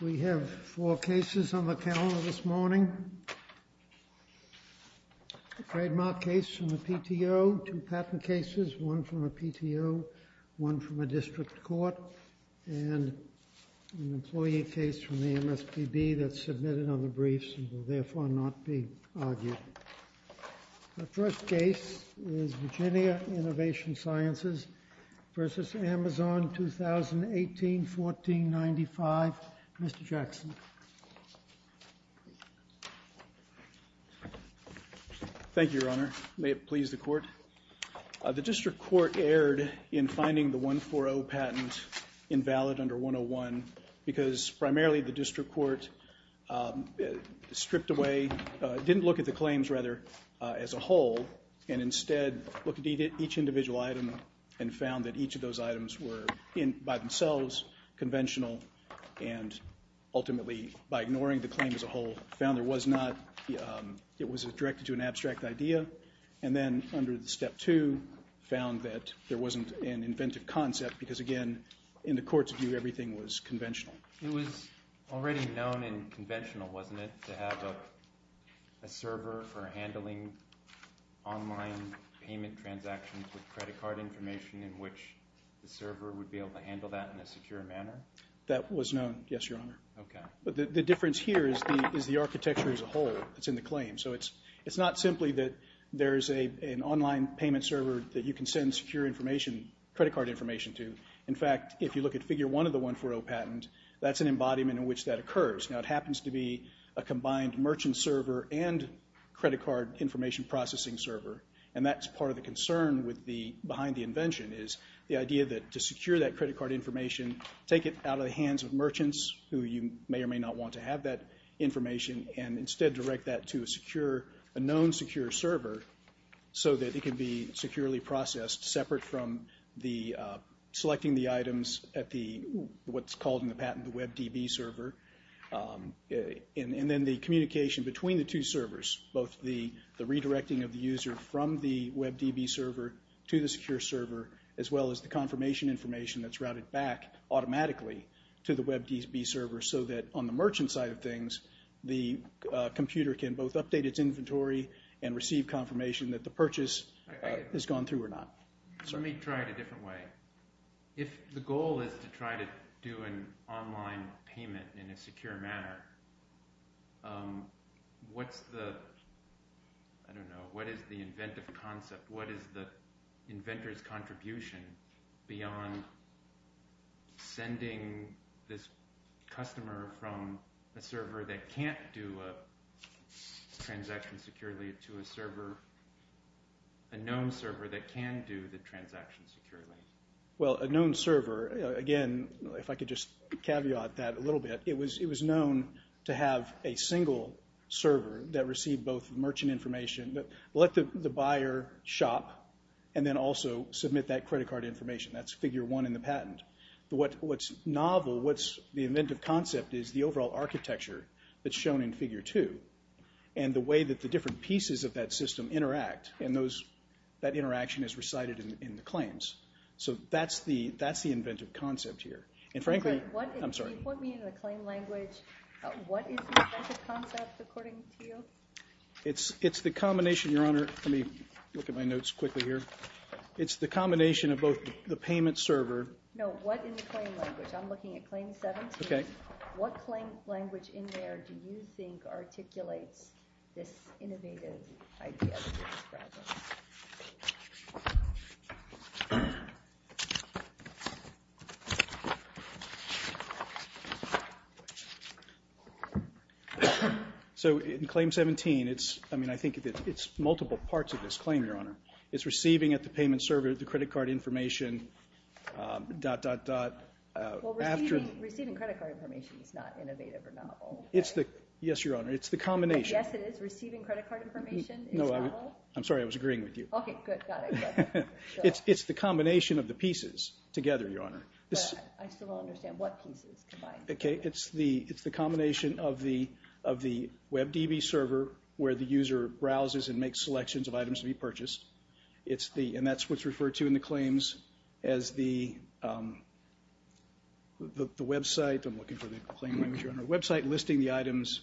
We have four cases on the calendar this morning, a trademark case from the PTO, two patent cases, one from a PTO, one from a district court and an employee case from the MSPB that's not to be argued. The first case is Virginia Innovation Sciences v. Amazon, 2018-1495, Mr. Jackson. Thank you, Your Honor. May it please the Court. The district court erred in finding the 140 patent invalid under 101 because primarily the district court stripped away, didn't look at the claims, rather, as a whole and instead looked at each individual item and found that each of those items were by themselves conventional and ultimately, by ignoring the claim as a whole, found it was directed to an abstract idea. And then under the step two, found that there wasn't an inventive concept because, again, in the court's view, everything was conventional. It was already known and conventional, wasn't it, to have a server for handling online payment transactions with credit card information in which the server would be able to handle that in a secure manner? That was known, yes, Your Honor. But the difference here is the architecture as a whole that's in the claim. So it's not simply that there's an online payment server that you can send secure information, credit card information to. In fact, if you look at figure one of the 140 patent, that's an embodiment in which that occurs. Now, it happens to be a combined merchant server and credit card information processing server. And that's part of the concern behind the invention is the idea that to secure that credit card information, take it out of the hands of merchants who you may or may not want to have that information and instead direct that to a known secure server so that it can be securely processed separate from the selecting the items at what's called in the patent the WebDB server, and then the communication between the two servers, both the redirecting of the user from the WebDB server to the secure server as well as the confirmation information that's routed back automatically to the WebDB server so that on the merchant side of things, the computer can both update its inventory and receive the confirmation that the purchase has gone through or not. Let me try it a different way. If the goal is to try to do an online payment in a secure manner, what's the, I don't know, what is the inventive concept, what is the inventor's contribution beyond sending this server, a known server that can do the transaction securely? Well, a known server, again, if I could just caveat that a little bit, it was known to have a single server that received both merchant information, let the buyer shop, and then also submit that credit card information. That's figure one in the patent. What's novel, what's the inventive concept is the overall architecture that's shown in that system interact, and that interaction is recited in the claims. So that's the inventive concept here. And frankly, I'm sorry. You put me in the claim language, what is the inventive concept, according to you? It's the combination, Your Honor, let me look at my notes quickly here. It's the combination of both the payment server. No, what in the claim language, I'm looking at Claim 17. What claim language in there do you think articulates this innovative idea that you're describing? So in Claim 17, it's, I mean, I think it's multiple parts of this claim, Your Honor. It's receiving at the payment server, the credit card information, dot, dot, dot, after Receiving credit card information is not innovative or novel, right? It's the, yes, Your Honor, it's the combination. Yes, it is. Receiving credit card information is novel. No, I'm sorry, I was agreeing with you. Okay, good, got it. It's the combination of the pieces together, Your Honor. I still don't understand what pieces combined. Okay, it's the combination of the WebDB server, where the user browses and makes selections of items to be purchased. It's the, and that's what's referred to in the claims as the website, I'm looking for the claim language, Your Honor, website listing the items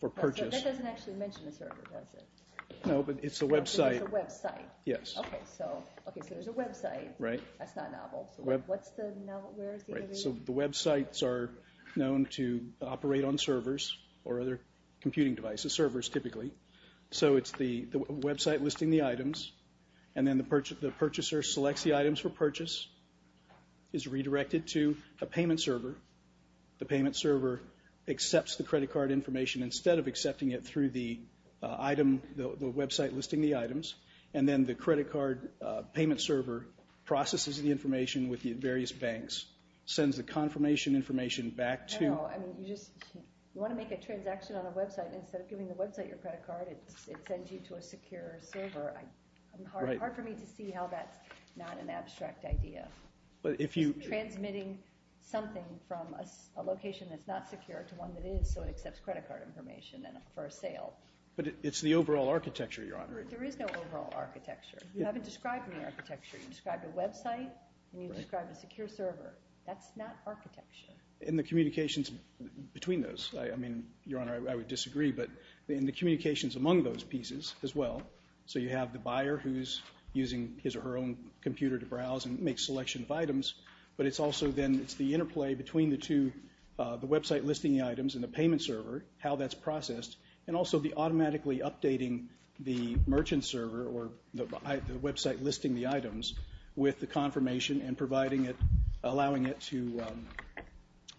for purchase. That doesn't actually mention the server, does it? No, but it's the website. It's the website. Yes. Okay, so there's a website. Right. That's not novel. What's the, where is the innovation? Right, so the websites are known to operate on servers or other computing devices, servers typically, so it's the website listing the items, and then the purchaser selects the items for purchase, is redirected to a payment server, the payment server accepts the credit card information instead of accepting it through the item, the website listing the items, and then the credit card payment server processes the information with the various banks, sends the confirmation information back to... I don't know, I mean, you just, you want to make a transaction on a website, and instead of giving the website your credit card, it sends you to a secure server. Right. Hard for me to see how that's not an abstract idea. But if you... It's transmitting something from a location that's not secure to one that is, so it accepts credit card information for a sale. But it's the overall architecture, Your Honor. There is no overall architecture. You haven't described any architecture. You described a website, and you described a secure server. That's not architecture. In the communications between those, I mean, Your Honor, I would disagree, but in the communications among those pieces as well, so you have the buyer who's using his or her own computer to browse and make selection of items, but it's also then, it's the interplay between the two, the website listing the items and the payment server, how that's processed, and also the automatically updating the merchant server or the website listing the items with the confirmation and providing it, allowing it to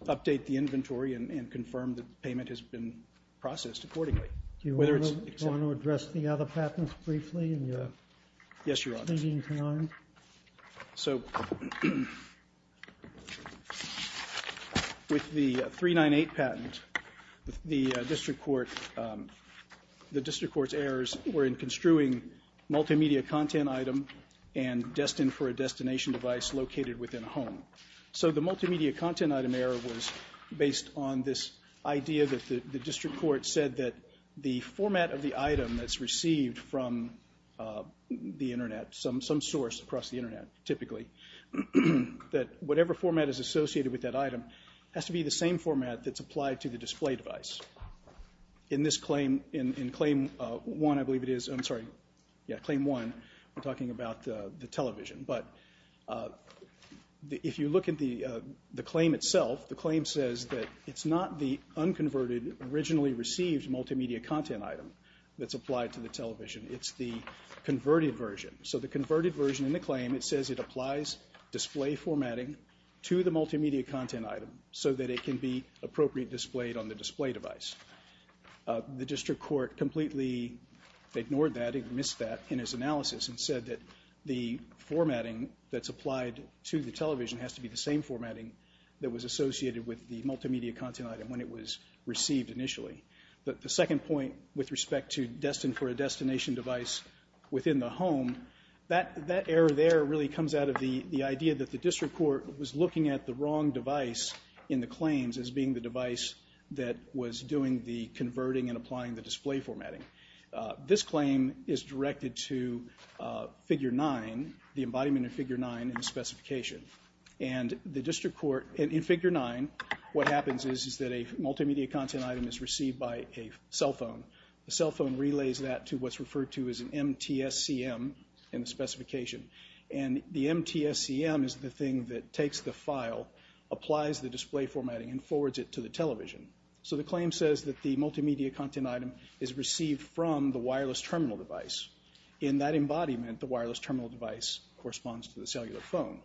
update the inventory and confirm that the payment has been processed accordingly, whether it's... Do you want to address the other patents briefly in your speaking time? Yes, Your Honor. So, with the 398 patent, the district court, the district court's errors were in construing multimedia content item and destined for a destination device located within a home. So, the multimedia content item error was based on this idea that the district court said that the format of the item that's received from the Internet, some source across the Internet, typically, that whatever format is associated with that item has to be the same format that's applied to the display device. In this claim, in Claim 1, I believe it is, I'm sorry, yeah, Claim 1, we're talking about the television, but if you look at the claim itself, the claim says that it's not the unconverted, originally received multimedia content item that's applied to the television. It's the converted version. So, the converted version in the claim, it says it applies display formatting to the device. The district court completely ignored that, it missed that in its analysis and said that the formatting that's applied to the television has to be the same formatting that was associated with the multimedia content item when it was received initially. The second point with respect to destined for a destination device within the home, that error there really comes out of the idea that the district court was looking at the converting and applying the display formatting. This claim is directed to Figure 9, the embodiment of Figure 9 in the specification. And the district court, in Figure 9, what happens is that a multimedia content item is received by a cell phone. The cell phone relays that to what's referred to as an MTSCM in the specification. And the MTSCM is the thing that takes the file, applies the display formatting, and forwards it to the television. So, the claim says that the multimedia content item is received from the wireless terminal device. In that embodiment, the wireless terminal device corresponds to the cellular phone.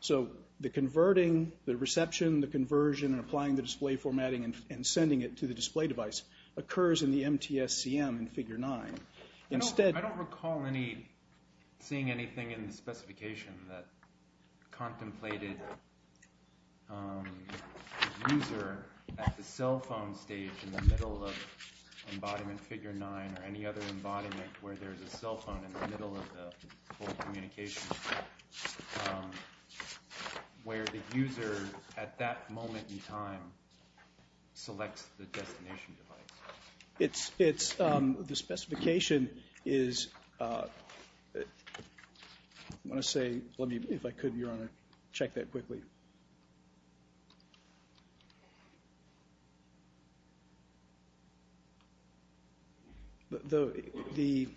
So, the converting, the reception, the conversion, and applying the display formatting and sending it to the display device occurs in the MTSCM in Figure 9. I don't recall seeing anything in the specification that contemplated the user at the cell phone stage in the middle of embodiment Figure 9 or any other embodiment where there's a cell phone in the middle of the whole communication where the user, at that moment in time, selects the destination device. The specification is, I want to say, let me, if I could, Your Honor, check that quickly. The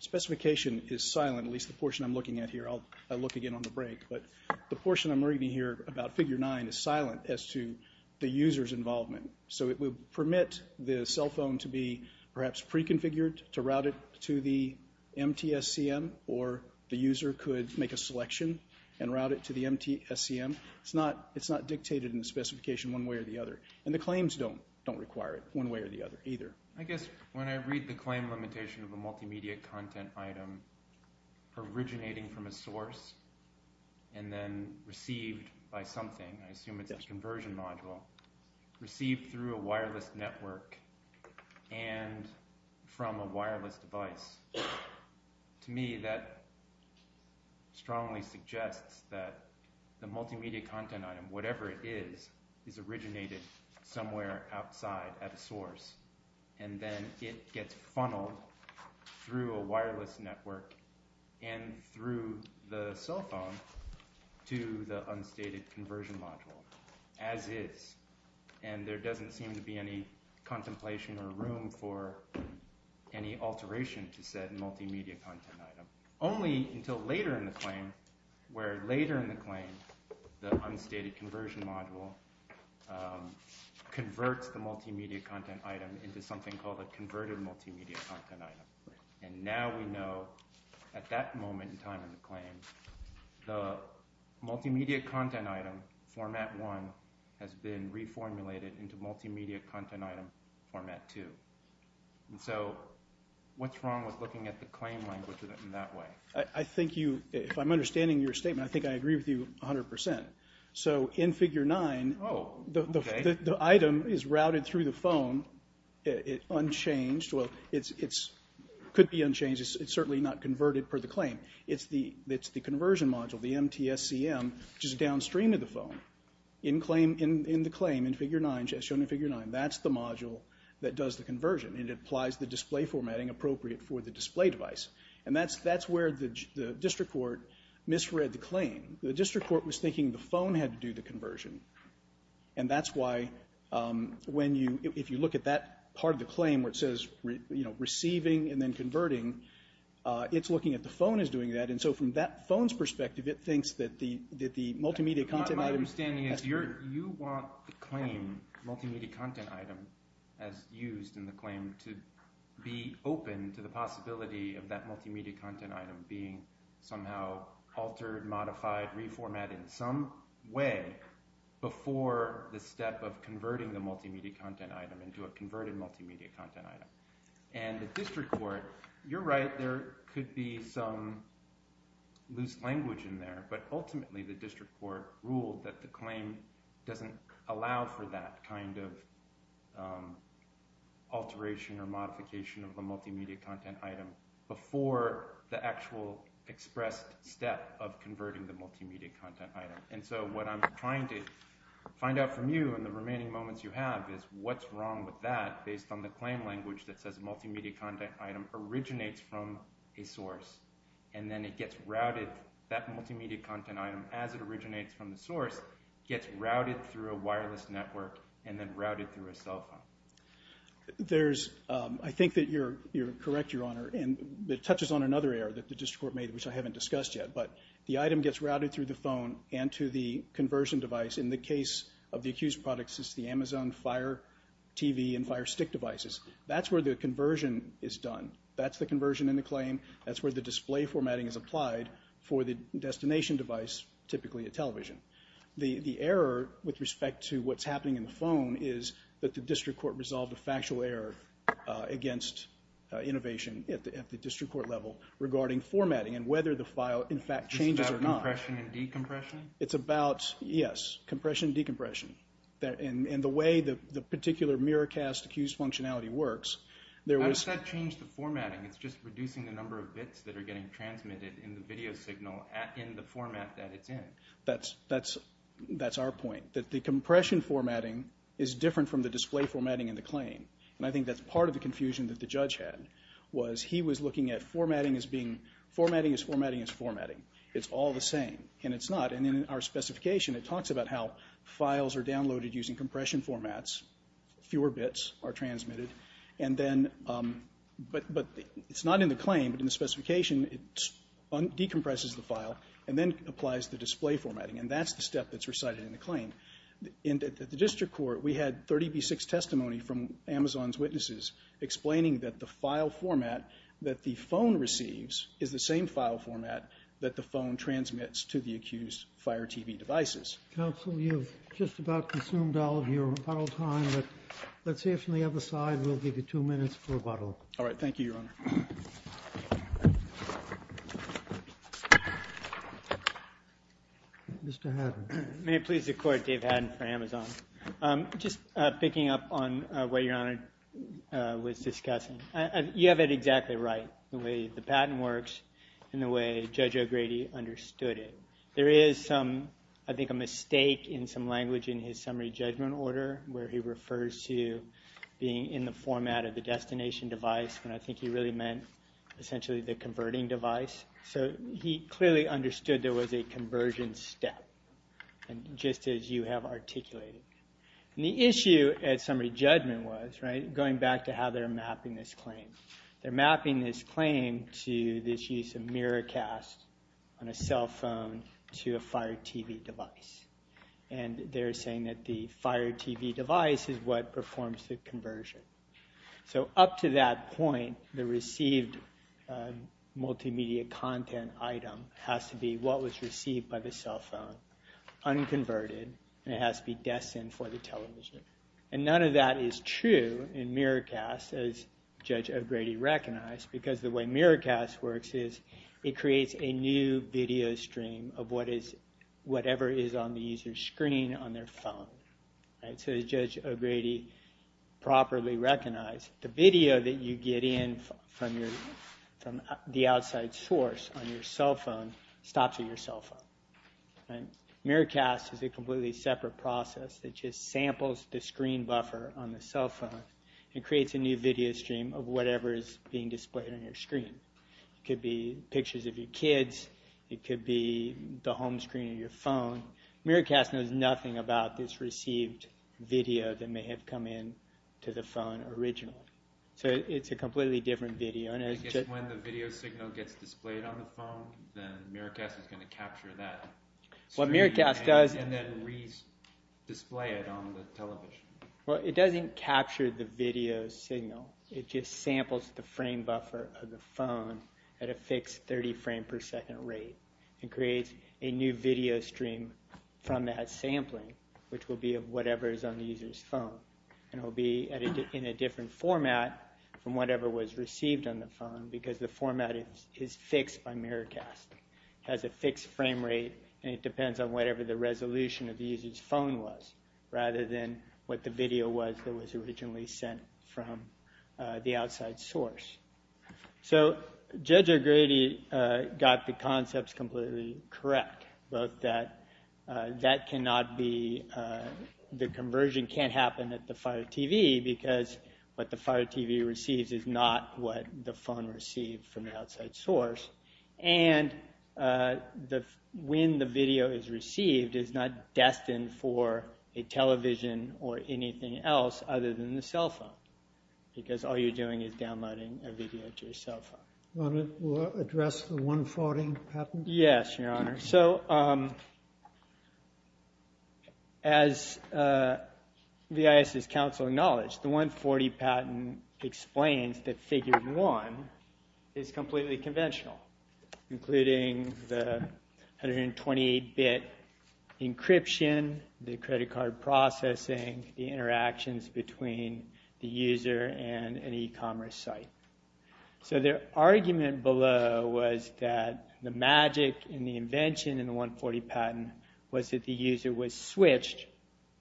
specification is silent, at least the portion I'm looking at here. I'll look again on the break, but the portion I'm reading here about Figure 9 is silent as to the user's involvement. So, it would permit the cell phone to be, perhaps, pre-configured to route it to the MTSCM or the user could make a selection and route it to the MTSCM. It's not dictated in the specification one way or the other. And the claims don't require it one way or the other either. I guess when I read the claim limitation of a multimedia content item originating from a source and then received by something, I assume it's a conversion module, received through a wireless network and from a wireless device, to me that strongly suggests that the multimedia content item, whatever it is, is originated somewhere outside at a source and then it gets funneled through a wireless network and through the cell phone to the unstated conversion module, as is. And there doesn't seem to be any contemplation or room for any alteration to said multimedia content item. Only until later in the claim, where later in the claim the unstated conversion module converts the multimedia content item into something called a converted multimedia content item. And now we know, at that moment in time in the claim, the multimedia content item, Format 1, has been reformulated into multimedia content item, Format 2. So, what's wrong with looking at the claim language in that way? I think you, if I'm understanding your statement, I think I agree with you 100%. So, in Figure 9, the item is routed through the phone, unchanged. Well, it could be unchanged. It's certainly not converted per the claim. It's the conversion module, the MTSCM, which is downstream of the phone, in the claim in Figure 9, as shown in Figure 9. That's the module that does the conversion. It applies the display formatting appropriate for the display device. And that's where the district court misread the claim. The district court was thinking the phone had to do the conversion. And that's why, if you look at that part of the claim where it says receiving and then converting, it's looking at the phone as doing that. And so, from that phone's perspective, it thinks that the multimedia content item... My understanding is you want the claim, multimedia content item, as used in the claim, to be open to the possibility of that multimedia content item being somehow altered, modified, reformatted in some way before the step of converting the multimedia content item into a converted multimedia content item. And the district court... You're right, there could be some loose language in there, but ultimately the district court ruled that the claim doesn't allow for that kind of alteration or modification of the multimedia content item before the actual expressed step of converting the multimedia content item. And so what I'm trying to find out from you and the remaining moments you have is what's wrong with that based on the claim language that says multimedia content item originates from a source and then it gets routed... That multimedia content item, as it originates from the source, gets routed through a wireless network and then routed through a cell phone. There's... I think that you're correct, Your Honor, and it touches on another error that the district court made, which I haven't discussed yet, but the item gets routed through the phone and to the conversion device. In the case of the accused products, it's the Amazon Fire TV and Fire Stick devices. That's where the conversion is done. That's the conversion in the claim. That's where the display formatting is applied for the destination device, typically a television. The error with respect to what's happening in the phone is that the district court resolved a factual error against innovation at the district court level regarding formatting and whether the file, in fact, changes or not. It's about compression and decompression? It's about, yes, compression and decompression. And the way the particular mirror cast accused functionality works... How does that change the formatting? It's just reducing the number of bits that are getting transmitted in the video signal in the format that it's in. That's our point, that the compression formatting is different from the display formatting in the claim. And I think that's part of the confusion that the judge had, was he was looking at formatting as being... It's all the same, and it's not. And in our specification, it talks about how files are downloaded using compression formats, fewer bits are transmitted, but it's not in the claim, but in the specification, it decompresses the file and then applies the display formatting. And that's the step that's recited in the claim. At the district court, we had 30B6 testimony from Amazon's witnesses explaining that the file format that the phone receives is the same file format that the phone transmits to the accused Fire TV devices. Counsel, you've just about consumed all of your bottle time, but let's see if from the other side we'll give you two minutes for a bottle. All right, thank you, Your Honor. Mr. Haddon. May it please the Court, Dave Haddon for Amazon. Just picking up on what Your Honor was discussing. You have it exactly right the way the patent works and the way Judge O'Grady understood it. There is, I think, a mistake in some language in his summary judgment order where he refers to being in the format of the destination device when I think he really meant essentially the converting device. So he clearly understood there was a conversion step just as you have articulated. And the issue at summary judgment was going back to how they're mapping this claim. They're mapping this claim to this use of mirror cast on a cell phone to a Fire TV device. And they're saying that the Fire TV device is what performs the conversion. So up to that point the received multimedia content item has to be what was received by the cell phone unconverted and it has to be destined for the television. And none of that is true in mirror cast as Judge O'Grady recognized because the way mirror cast works is it creates a new video stream of whatever is on the user's screen on their phone. So as Judge O'Grady properly recognized the video that you get in from the outside source on your cell phone stops at your cell phone. Mirror cast is a completely separate process that just samples the screen buffer on the cell phone and creates a new video stream of whatever is being displayed on your screen. It could be pictures of your kids it could be the home screen of your phone. Mirror cast knows nothing about this received video that may have come in to the phone originally. So it's a completely different video. When the video signal gets displayed on the phone then mirror cast is going to capture that. What mirror cast does is display it on the television. It doesn't capture the video signal. It just samples the frame buffer of the phone at a fixed 30 frame per second rate. It creates a new video stream from that sampling which will be of whatever is on the user's phone. It will be in a different format from whatever was received on the phone because the format is fixed by mirror cast. It has a fixed frame rate and it depends on whatever the resolution of the user's phone was rather than what the video was that was originally sent from the outside source. So Judge O'Grady got the concepts completely correct. Both that that cannot be the conversion can't happen at the Fire TV because what the Fire TV receives is not what the phone received from the when the video is received is not destined for a television or anything else other than the cell phone because all you're doing is downloading a video to your cell phone. Your Honor, we'll address the 140 patent. Yes, Your Honor. So as VIS's counsel acknowledged, the 140 patent explains that figure 1 is completely conventional including the 128 bit encryption the credit card processing the interactions between the user and an e-commerce site. So their argument below was that the magic and the invention in the 140 patent was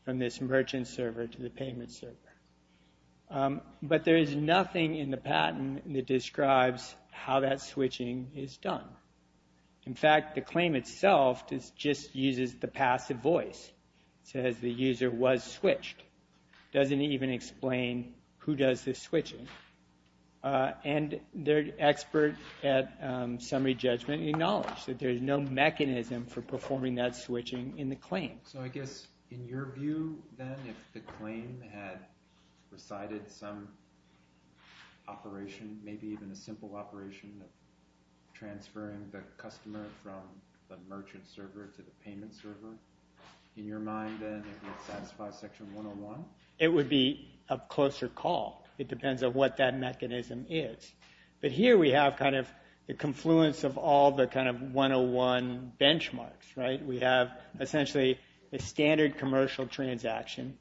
from this merchant server to the payment server. But there is nothing in the patent that describes how that switching is done. In fact, the claim itself just uses the passive voice it says the user was switched. It doesn't even explain who does the switching. And the expert at Summary Judgment acknowledged that there is no mechanism for performing that switching in the claim. So I guess in your view then, if the claim had recited some operation maybe even a simple operation transferring the customer from the merchant server to the payment server, in your mind then it would satisfy section 101? It would be a closer call. It depends on what that mechanism is. But here we have kind of the confluence of all the kind of 101 benchmarks, right? We have essentially a standard commercial transaction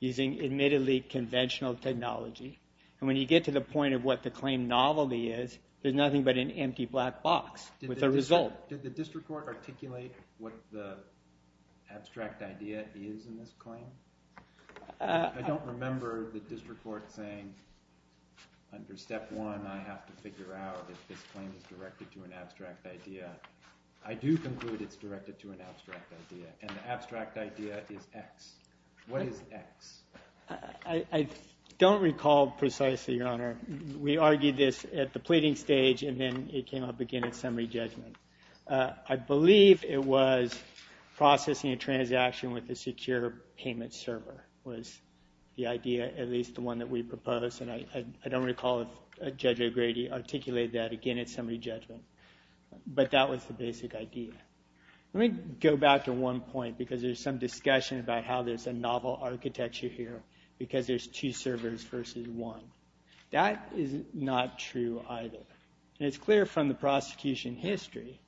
using admittedly conventional technology and when you get to the point of what the claim novelty is, there's nothing but an empty black box with a result. Did the district court articulate what the abstract idea is in this claim? I don't remember the district court saying under step one I have to figure out if this claim is directed to an abstract idea. I do conclude it's directed to an abstract idea and the abstract idea is X. What is X? I don't recall precisely, your honor. We argued this at the pleading stage and then it came up again at summary judgment. I believe it was processing a transaction with a secure payment server was the idea, at least the one that we proposed and I don't recall if Judge O'Grady articulated that again at summary judgment. But that was the basic idea. Let me go back to one point because there's some discussion about how there's a novel architecture here because there's two servers versus one. That is not true either. It's clear from the prosecution history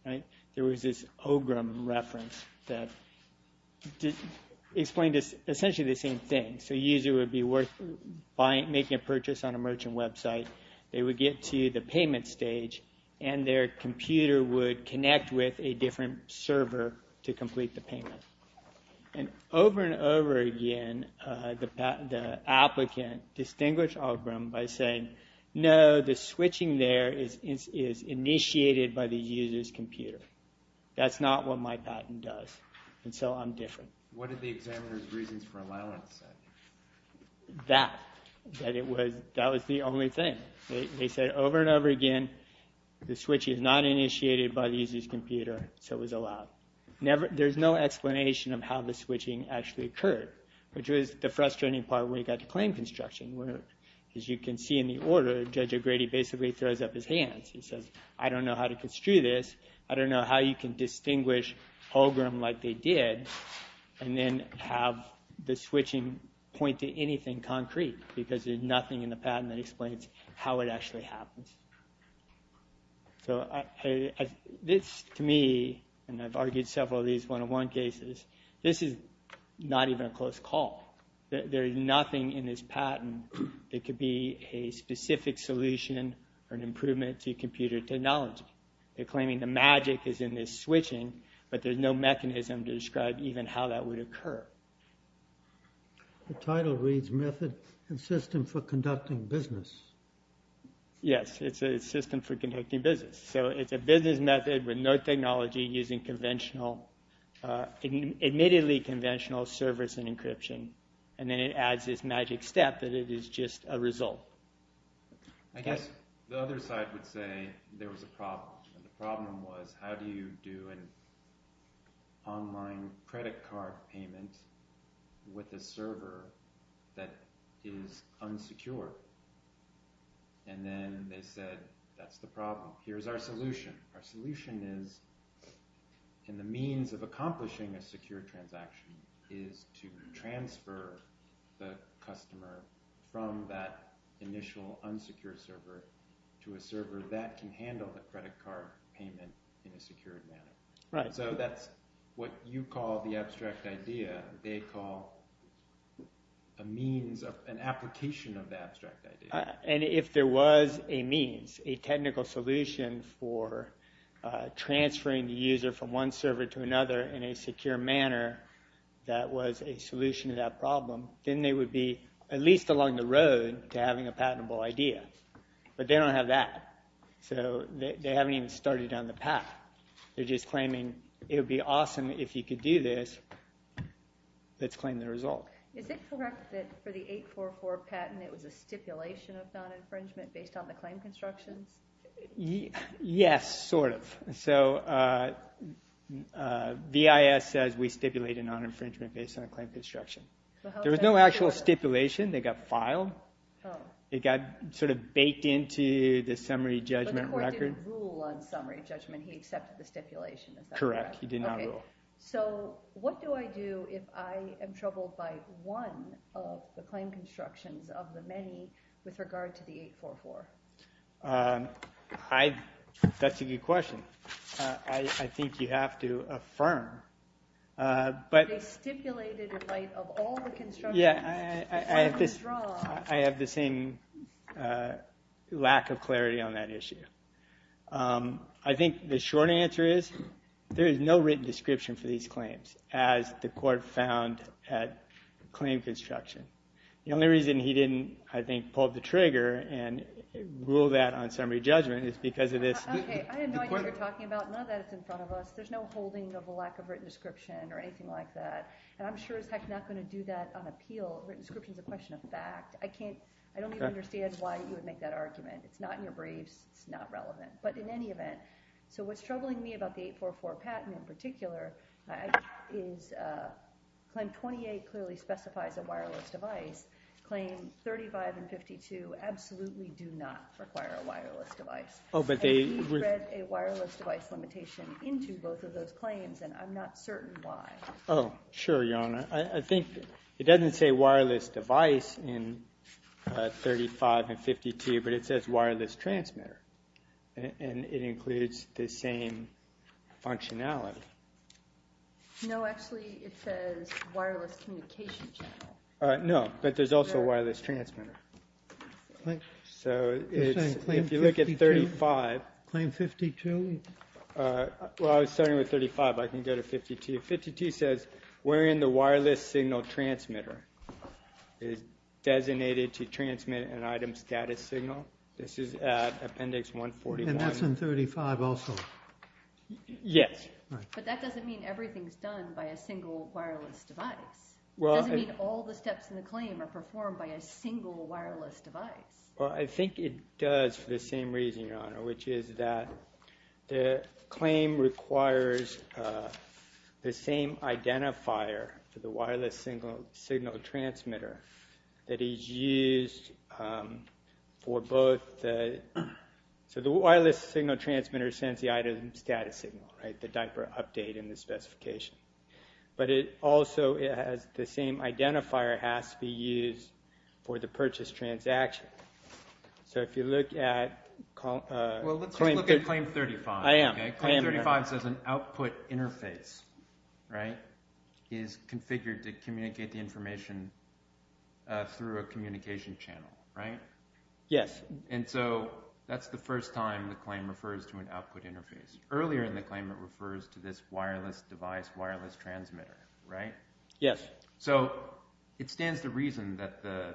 there was this ogrum reference that explained essentially the same thing. A user would be worth making a purchase on a merchant website they would get to the payment stage and their computer would connect with a different server to complete the payment. Over and over again, the applicant distinguished ogrum by saying, no, the switching there is initiated by the user's computer. That's not what my patent does. So I'm different. What did the examiner's reasons for allowance say? That. That was the only thing. They said over and over again the switch is not initiated by the user's computer so it was allowed. There's no explanation of how the switching actually occurred which was the frustrating part when you got the claim construction where as you can see in the order Judge O'Grady basically throws up his hands and says, I don't know how to construe this I don't know how you can distinguish ogrum like they did and then have the switching point to anything concrete because there's nothing in the patent that explains how it actually happens. So this to me and I've argued several of these one-on-one cases, this is not even a close call. There is nothing in this patent that could be a specific solution or an improvement to computer technology. They're claiming the magic is in this switching but there's no mechanism to describe even how that would occur. The title reads Method and System for Conducting Business. Yes. It's a system for conducting business. So it's a business method with no technology using conventional admittedly conventional servers and encryption and then it adds this magic step that it is just a result. I guess the other side would say there was a problem. The problem was how do you do an online credit card payment with a server that is unsecure and then they said that's the problem. Here's our solution. Our solution is and the means of accomplishing a secure transaction is to transfer the customer from that initial unsecure server to a server that can handle the credit card payment in a secure manner. So that's what you call the abstract idea. They call a means of an application of the abstract idea. And if there was a means a technical solution for transferring the user from one server to another in a secure manner that was a solution to that problem, then they would be at least along the road to having a patentable idea. But they don't have that. So they haven't even started down the path. They're just claiming it would be awesome if you could do this. Let's claim the result. Is it correct that for the 844 patent it was a stipulation of non-infringement based on the claim constructions? Yes, sort of. VIS says we stipulate a non-infringement based on a claim construction. There was no actual stipulation. They got filed. It got sort of baked into the summary judgment record. But the court didn't rule on summary judgment. He accepted the stipulation. Correct. So what do I do if I am troubled by one of the claim constructions of the many with regard to the 844? That's a good question. I think you have to affirm. They stipulated in light of all the constructions that were withdrawn. I have the same lack of clarity on that issue. I think the short answer is there is no written description for these claims as the court found at claim construction. The only reason he didn't pull the trigger and rule that on summary judgment is because of this. I have no idea what you're talking about. None of that is in front of us. There's no holding of a lack of written description or anything like that. I'm sure as heck not going to do that on appeal. Written description is a question of fact. I don't even understand why you would make that argument. It's not in your briefs. It's not relevant. What's troubling me about the 844 patent in particular is claim 28 clearly specifies a wireless device. Claim 35 and 52 absolutely do not require a wireless device. He read a wireless device limitation into both of those claims and I'm not certain why. Sure, Your Honor. It doesn't say wireless device in 35 and 52 but it says wireless transmitter and it includes the same functionality. No, actually it says wireless communication channel. No, but there's also a wireless transmitter. So, if you look at 35 Claim 52 Well, I was starting with 35. I can go to 52. 52 says wherein the wireless signal transmitter is designated to This is at Appendix 141 And that's in 35 also? Yes. But that doesn't mean everything's done by a single wireless device. It doesn't mean all the steps in the claim are performed by a single wireless device. Well, I think it does for the same reason, Your Honor, which is that the claim requires the same identifier for the wireless signal transmitter that is used for both the wireless signal transmitter sends the item status signal, the diaper update in the specification. But it also has the same identifier has to be used for the purchase transaction. So, if you look at Well, let's look at Claim 35. I am, Your Honor. Claim 35 says an output interface is configured to communicate the information through a communication channel. Right? Yes. And so, that's the first time the claim refers to an output interface. Earlier in the claim it refers to this wireless device, wireless transmitter. Right? Yes. So, it stands to reason that the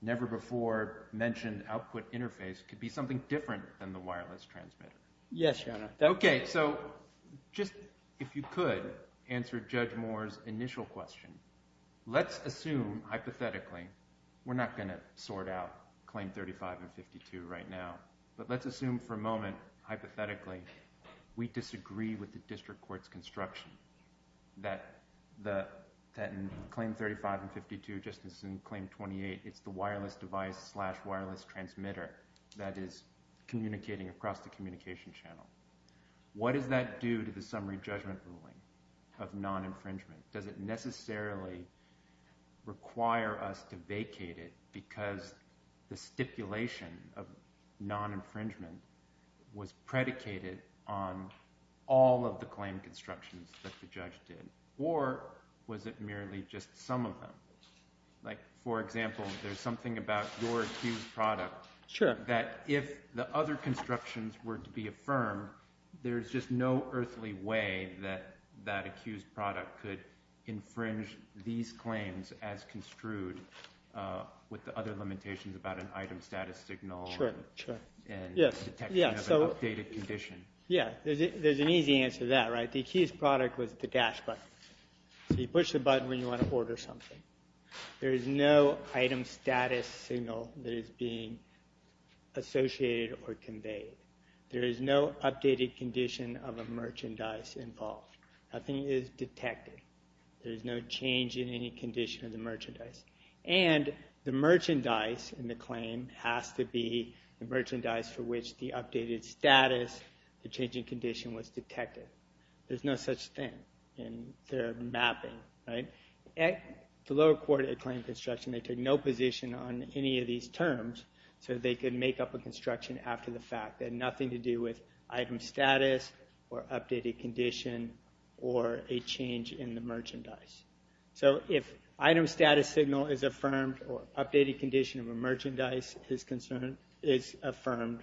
never-before mentioned output interface could be something different than the wireless transmitter. Yes, Your Honor. Okay, so, just if you could answer Judge Moore's initial question. Let's assume, hypothetically we're not going to sort out Claim 35 and 52 right now but let's assume for a moment, hypothetically we disagree with the District Court's construction that in Claim 35 and 52 just as in Claim 28, it's the wireless device slash wireless transmitter that is communicating across the communication channel. What does that do to the summary judgment of non-infringement? Does it necessarily require us to vacate it because the stipulation of non- infringement was predicated on all of the claim constructions that the judge did or was it merely just some of them? Like, for example, there's something about your accused product that if the other constructions were to be affirmed, there's just no earthly way that that accused product could infringe these claims as construed with the other limitations about an item status signal and detection of an updated condition. Yeah, there's an easy answer to that, right? The accused product was the dash button. So you push the button when you want to order something. There is no item status signal that is being associated or conveyed. There is no updated condition of a merchandise involved. Nothing is detected. There is no change in any condition of the merchandise. And the merchandise in the claim has to be the merchandise for which the updated status the changing condition was detected. There's no such thing in their mapping, right? At the lower court, it claimed construction. They took no position on any of these terms so they could make up a construction after the fact. Nothing to do with item status or updated condition or a change in the merchandise. So if item status signal is affirmed or updated condition of a merchandise is affirmed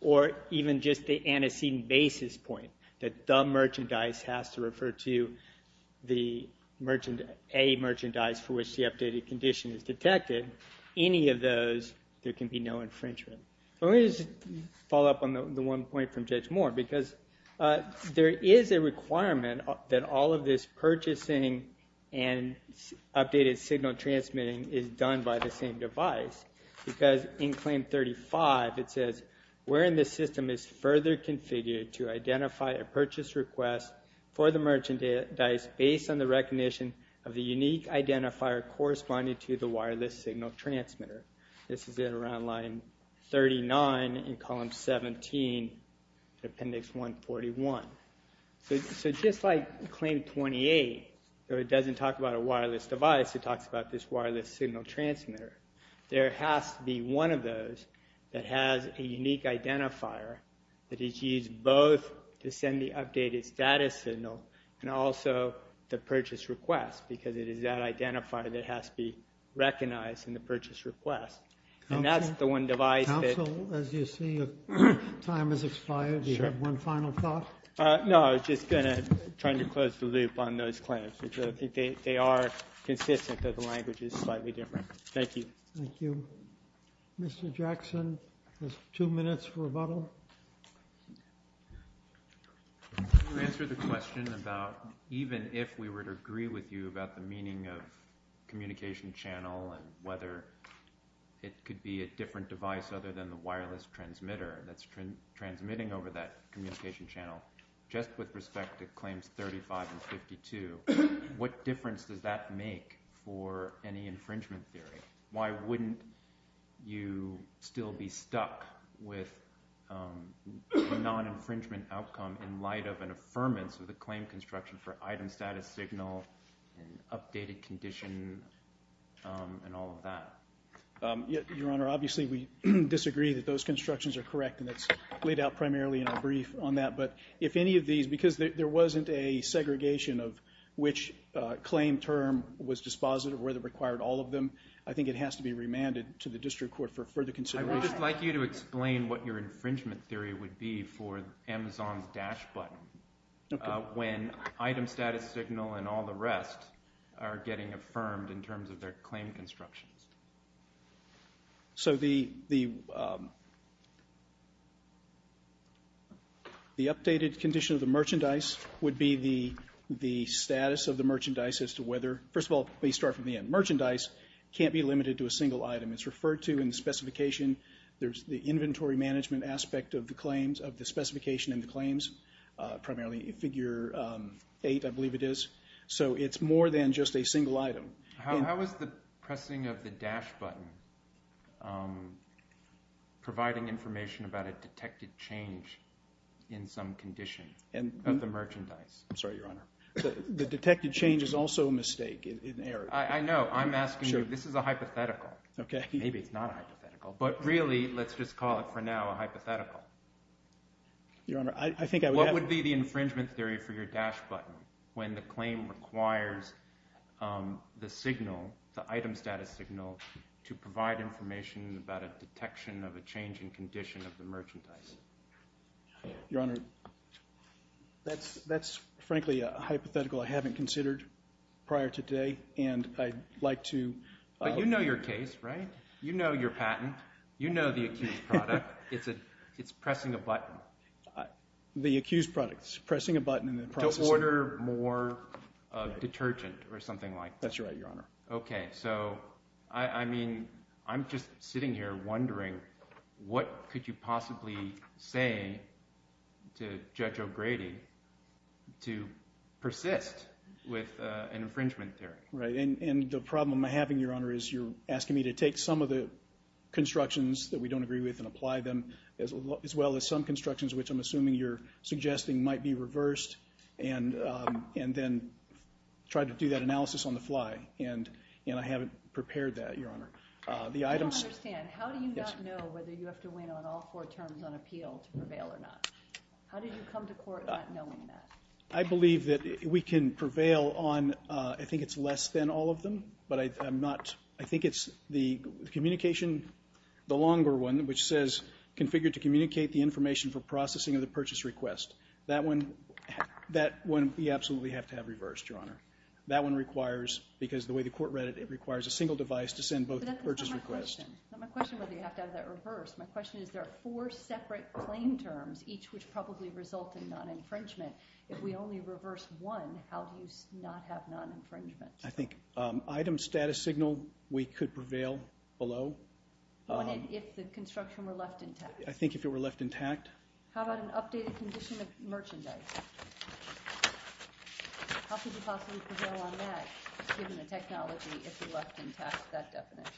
or even just the antecedent basis point that the merchandise has to refer to the merchandise for which the updated condition is detected, any of those there can be no infringement. Let me just follow up on the one point from Judge Moore because there is a requirement that all of this purchasing and updated signal transmitting is done by the same device. Because in claim 35 it says, wherein the system is further configured to identify a purchase request for the merchandise based on the recognition of the unique identifier corresponding to the purchases in around line 39 in column 17 appendix 141. So just like claim 28, though it doesn't talk about a wireless device, it talks about this wireless signal transmitter. There has to be one of those that has a unique identifier that is used both to send the updated status signal and also the purchase request because it is that identifier that has to be the purchase request. And that's the one device that... Counsel, as you see, time has expired. Do you have one final thought? No, I was just going to try to close the loop on those claims. They are consistent, though the language is slightly different. Thank you. Thank you. Mr. Jackson, two minutes for rebuttal. Can you answer the question about even if we were to agree with you about the meaning of communication channel and whether it could be a different device other than the wireless transmitter that's transmitting over that communication channel, just with respect to claims 35 and 52, what difference does that make for any infringement theory? Why wouldn't you still be stuck with non-infringement outcome in light of an affirmance of the claim construction for item status signal and updated condition and all of that? Your Honor, obviously we disagree that those constructions are correct and it's laid out primarily in our brief on that, but if any of these, because there wasn't a segregation of which claim term was dispositive, whether it required all of them, I think it has to be remanded to the district court for further consideration. I would just like you to explain what your infringement theory would be for Amazon's dash button. When item status signal and all the rest are getting affirmed in terms of their claim constructions. So the updated condition of the merchandise would be the status of the merchandise as to whether, first of all please start from the end. Merchandise can't be limited to a single item. It's referred to in specification, there's the inventory management aspect of the claims, of the specification and the claims, primarily figure eight I believe it is. So it's more than just a single item. How is the pressing of the dash button providing information about a detected change in some condition of the merchandise? I'm sorry, Your Honor. The detected change is also a mistake, an error. I know, I'm asking you, this is a hypothetical. Maybe it's not a hypothetical, but really let's just call it for now a hypothetical. Your Honor, I think I would have... What would be the infringement theory for your dash button when the claim requires the signal, the item status signal, to provide information about a detection of a change in condition of the merchandise? Your Honor, that's frankly a hypothetical I haven't considered prior to today and I'd like to... But you know your case, right? You know your case, it's pressing a button. The accused products, pressing a button in the process... To order more detergent or something like that. That's right, Your Honor. Okay, so I mean I'm just sitting here wondering what could you possibly say to Judge O'Grady to persist with an infringement theory? And the problem I'm having, Your Honor, is you're asking me to take some of the constructions and apply them as well as some constructions, which I'm assuming you're suggesting might be reversed and then try to do that analysis on the fly and I haven't prepared that, Your Honor. I don't understand. How do you not know whether you have to win on all four terms on appeal to prevail or not? How did you come to court not knowing that? I believe that we can prevail on... I think it's less than all of them, but I'm not... I think it's the communication, the longer one, which says configure to communicate the information for processing of the purchase request. That one we absolutely have to have reversed, Your Honor. That one requires, because of the way the court read it, it requires a single device to send both purchase requests. But that's not my question. My question is there are four separate claim terms, each which probably result in non-infringement. If we only reverse one, how do you not have non-infringement? I think item status signal we could prevail below. What if the construction were left intact? I think if it were left intact. How about an updated condition of merchandise? How could you possibly prevail on that, given the technology if you left intact that definition?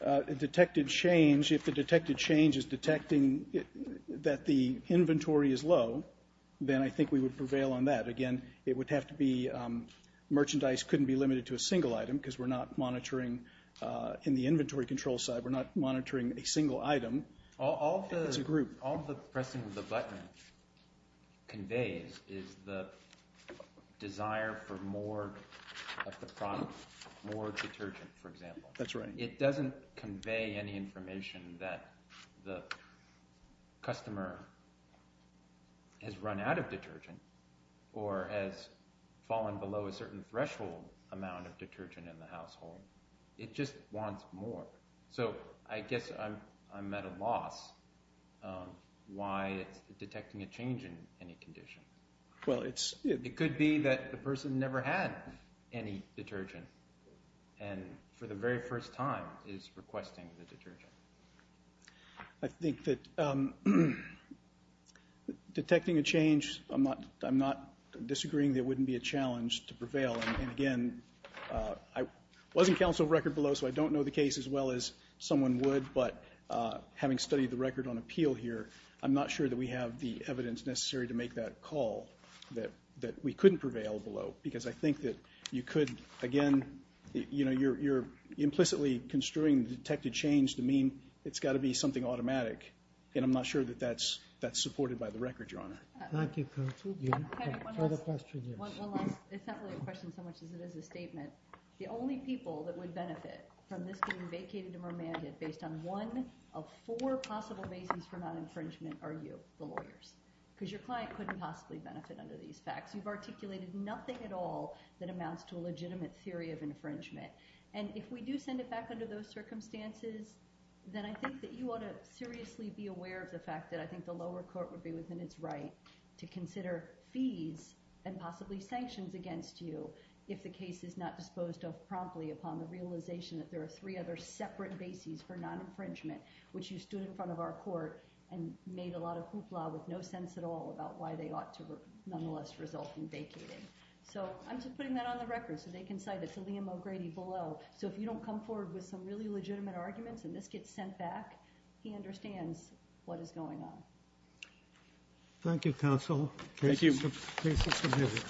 A detected change, if the detected change is detecting that the inventory is low, then I think we would prevail on that. Again, it would have to be merchandise couldn't be limited to a single item, because we're not monitoring in the inventory control side, we're not monitoring a single item. It's a group. All the pressing of the button conveys is the desire for more of the product, more detergent for example. That's right. It doesn't convey any information that the customer has run out of detergent, or has fallen below a certain threshold amount of detergent in the household. It just wants more. I guess I'm at a loss why it's detecting a change in any condition. It could be that the person never had any detergent and for the very first time is requesting the detergent. I think that detecting a change, I'm not disagreeing that it wouldn't be a challenge to prevail. I wasn't counsel of record below, so I don't know the case as well as someone would, but having studied the record on appeal here, I'm not sure that we have the evidence necessary to make that call that we couldn't prevail below, because I think that you could, again, you're implicitly construing the detected change to mean it's got to be something automatic. I'm not sure that that's supported by the record, Your Honor. One last assembly question, so much as it is a statement. The only people that would benefit from this being vacated and remanded based on one of four possible bases for non-infringement are you, the lawyers. Because your client couldn't possibly benefit under these facts. You've articulated nothing at all that amounts to a legitimate theory of infringement. And if we do send it back under those circumstances, then I think that you ought to seriously be aware of the fact that I think the lower court would be within its right to consider fees and possibly sanctions against you if the case is not disposed of promptly upon the realization that there are three other separate bases for non-infringement, which you stood in front of our court and made a lot of hoopla with no sense at all about why they ought to nonetheless result in vacating. So I'm just putting that on the record so they can cite it to Liam O'Grady below. So if you don't come forward with some really legitimate arguments and this gets sent back, he understands what is going on. Thank you, counsel. Thank you. Case is submitted.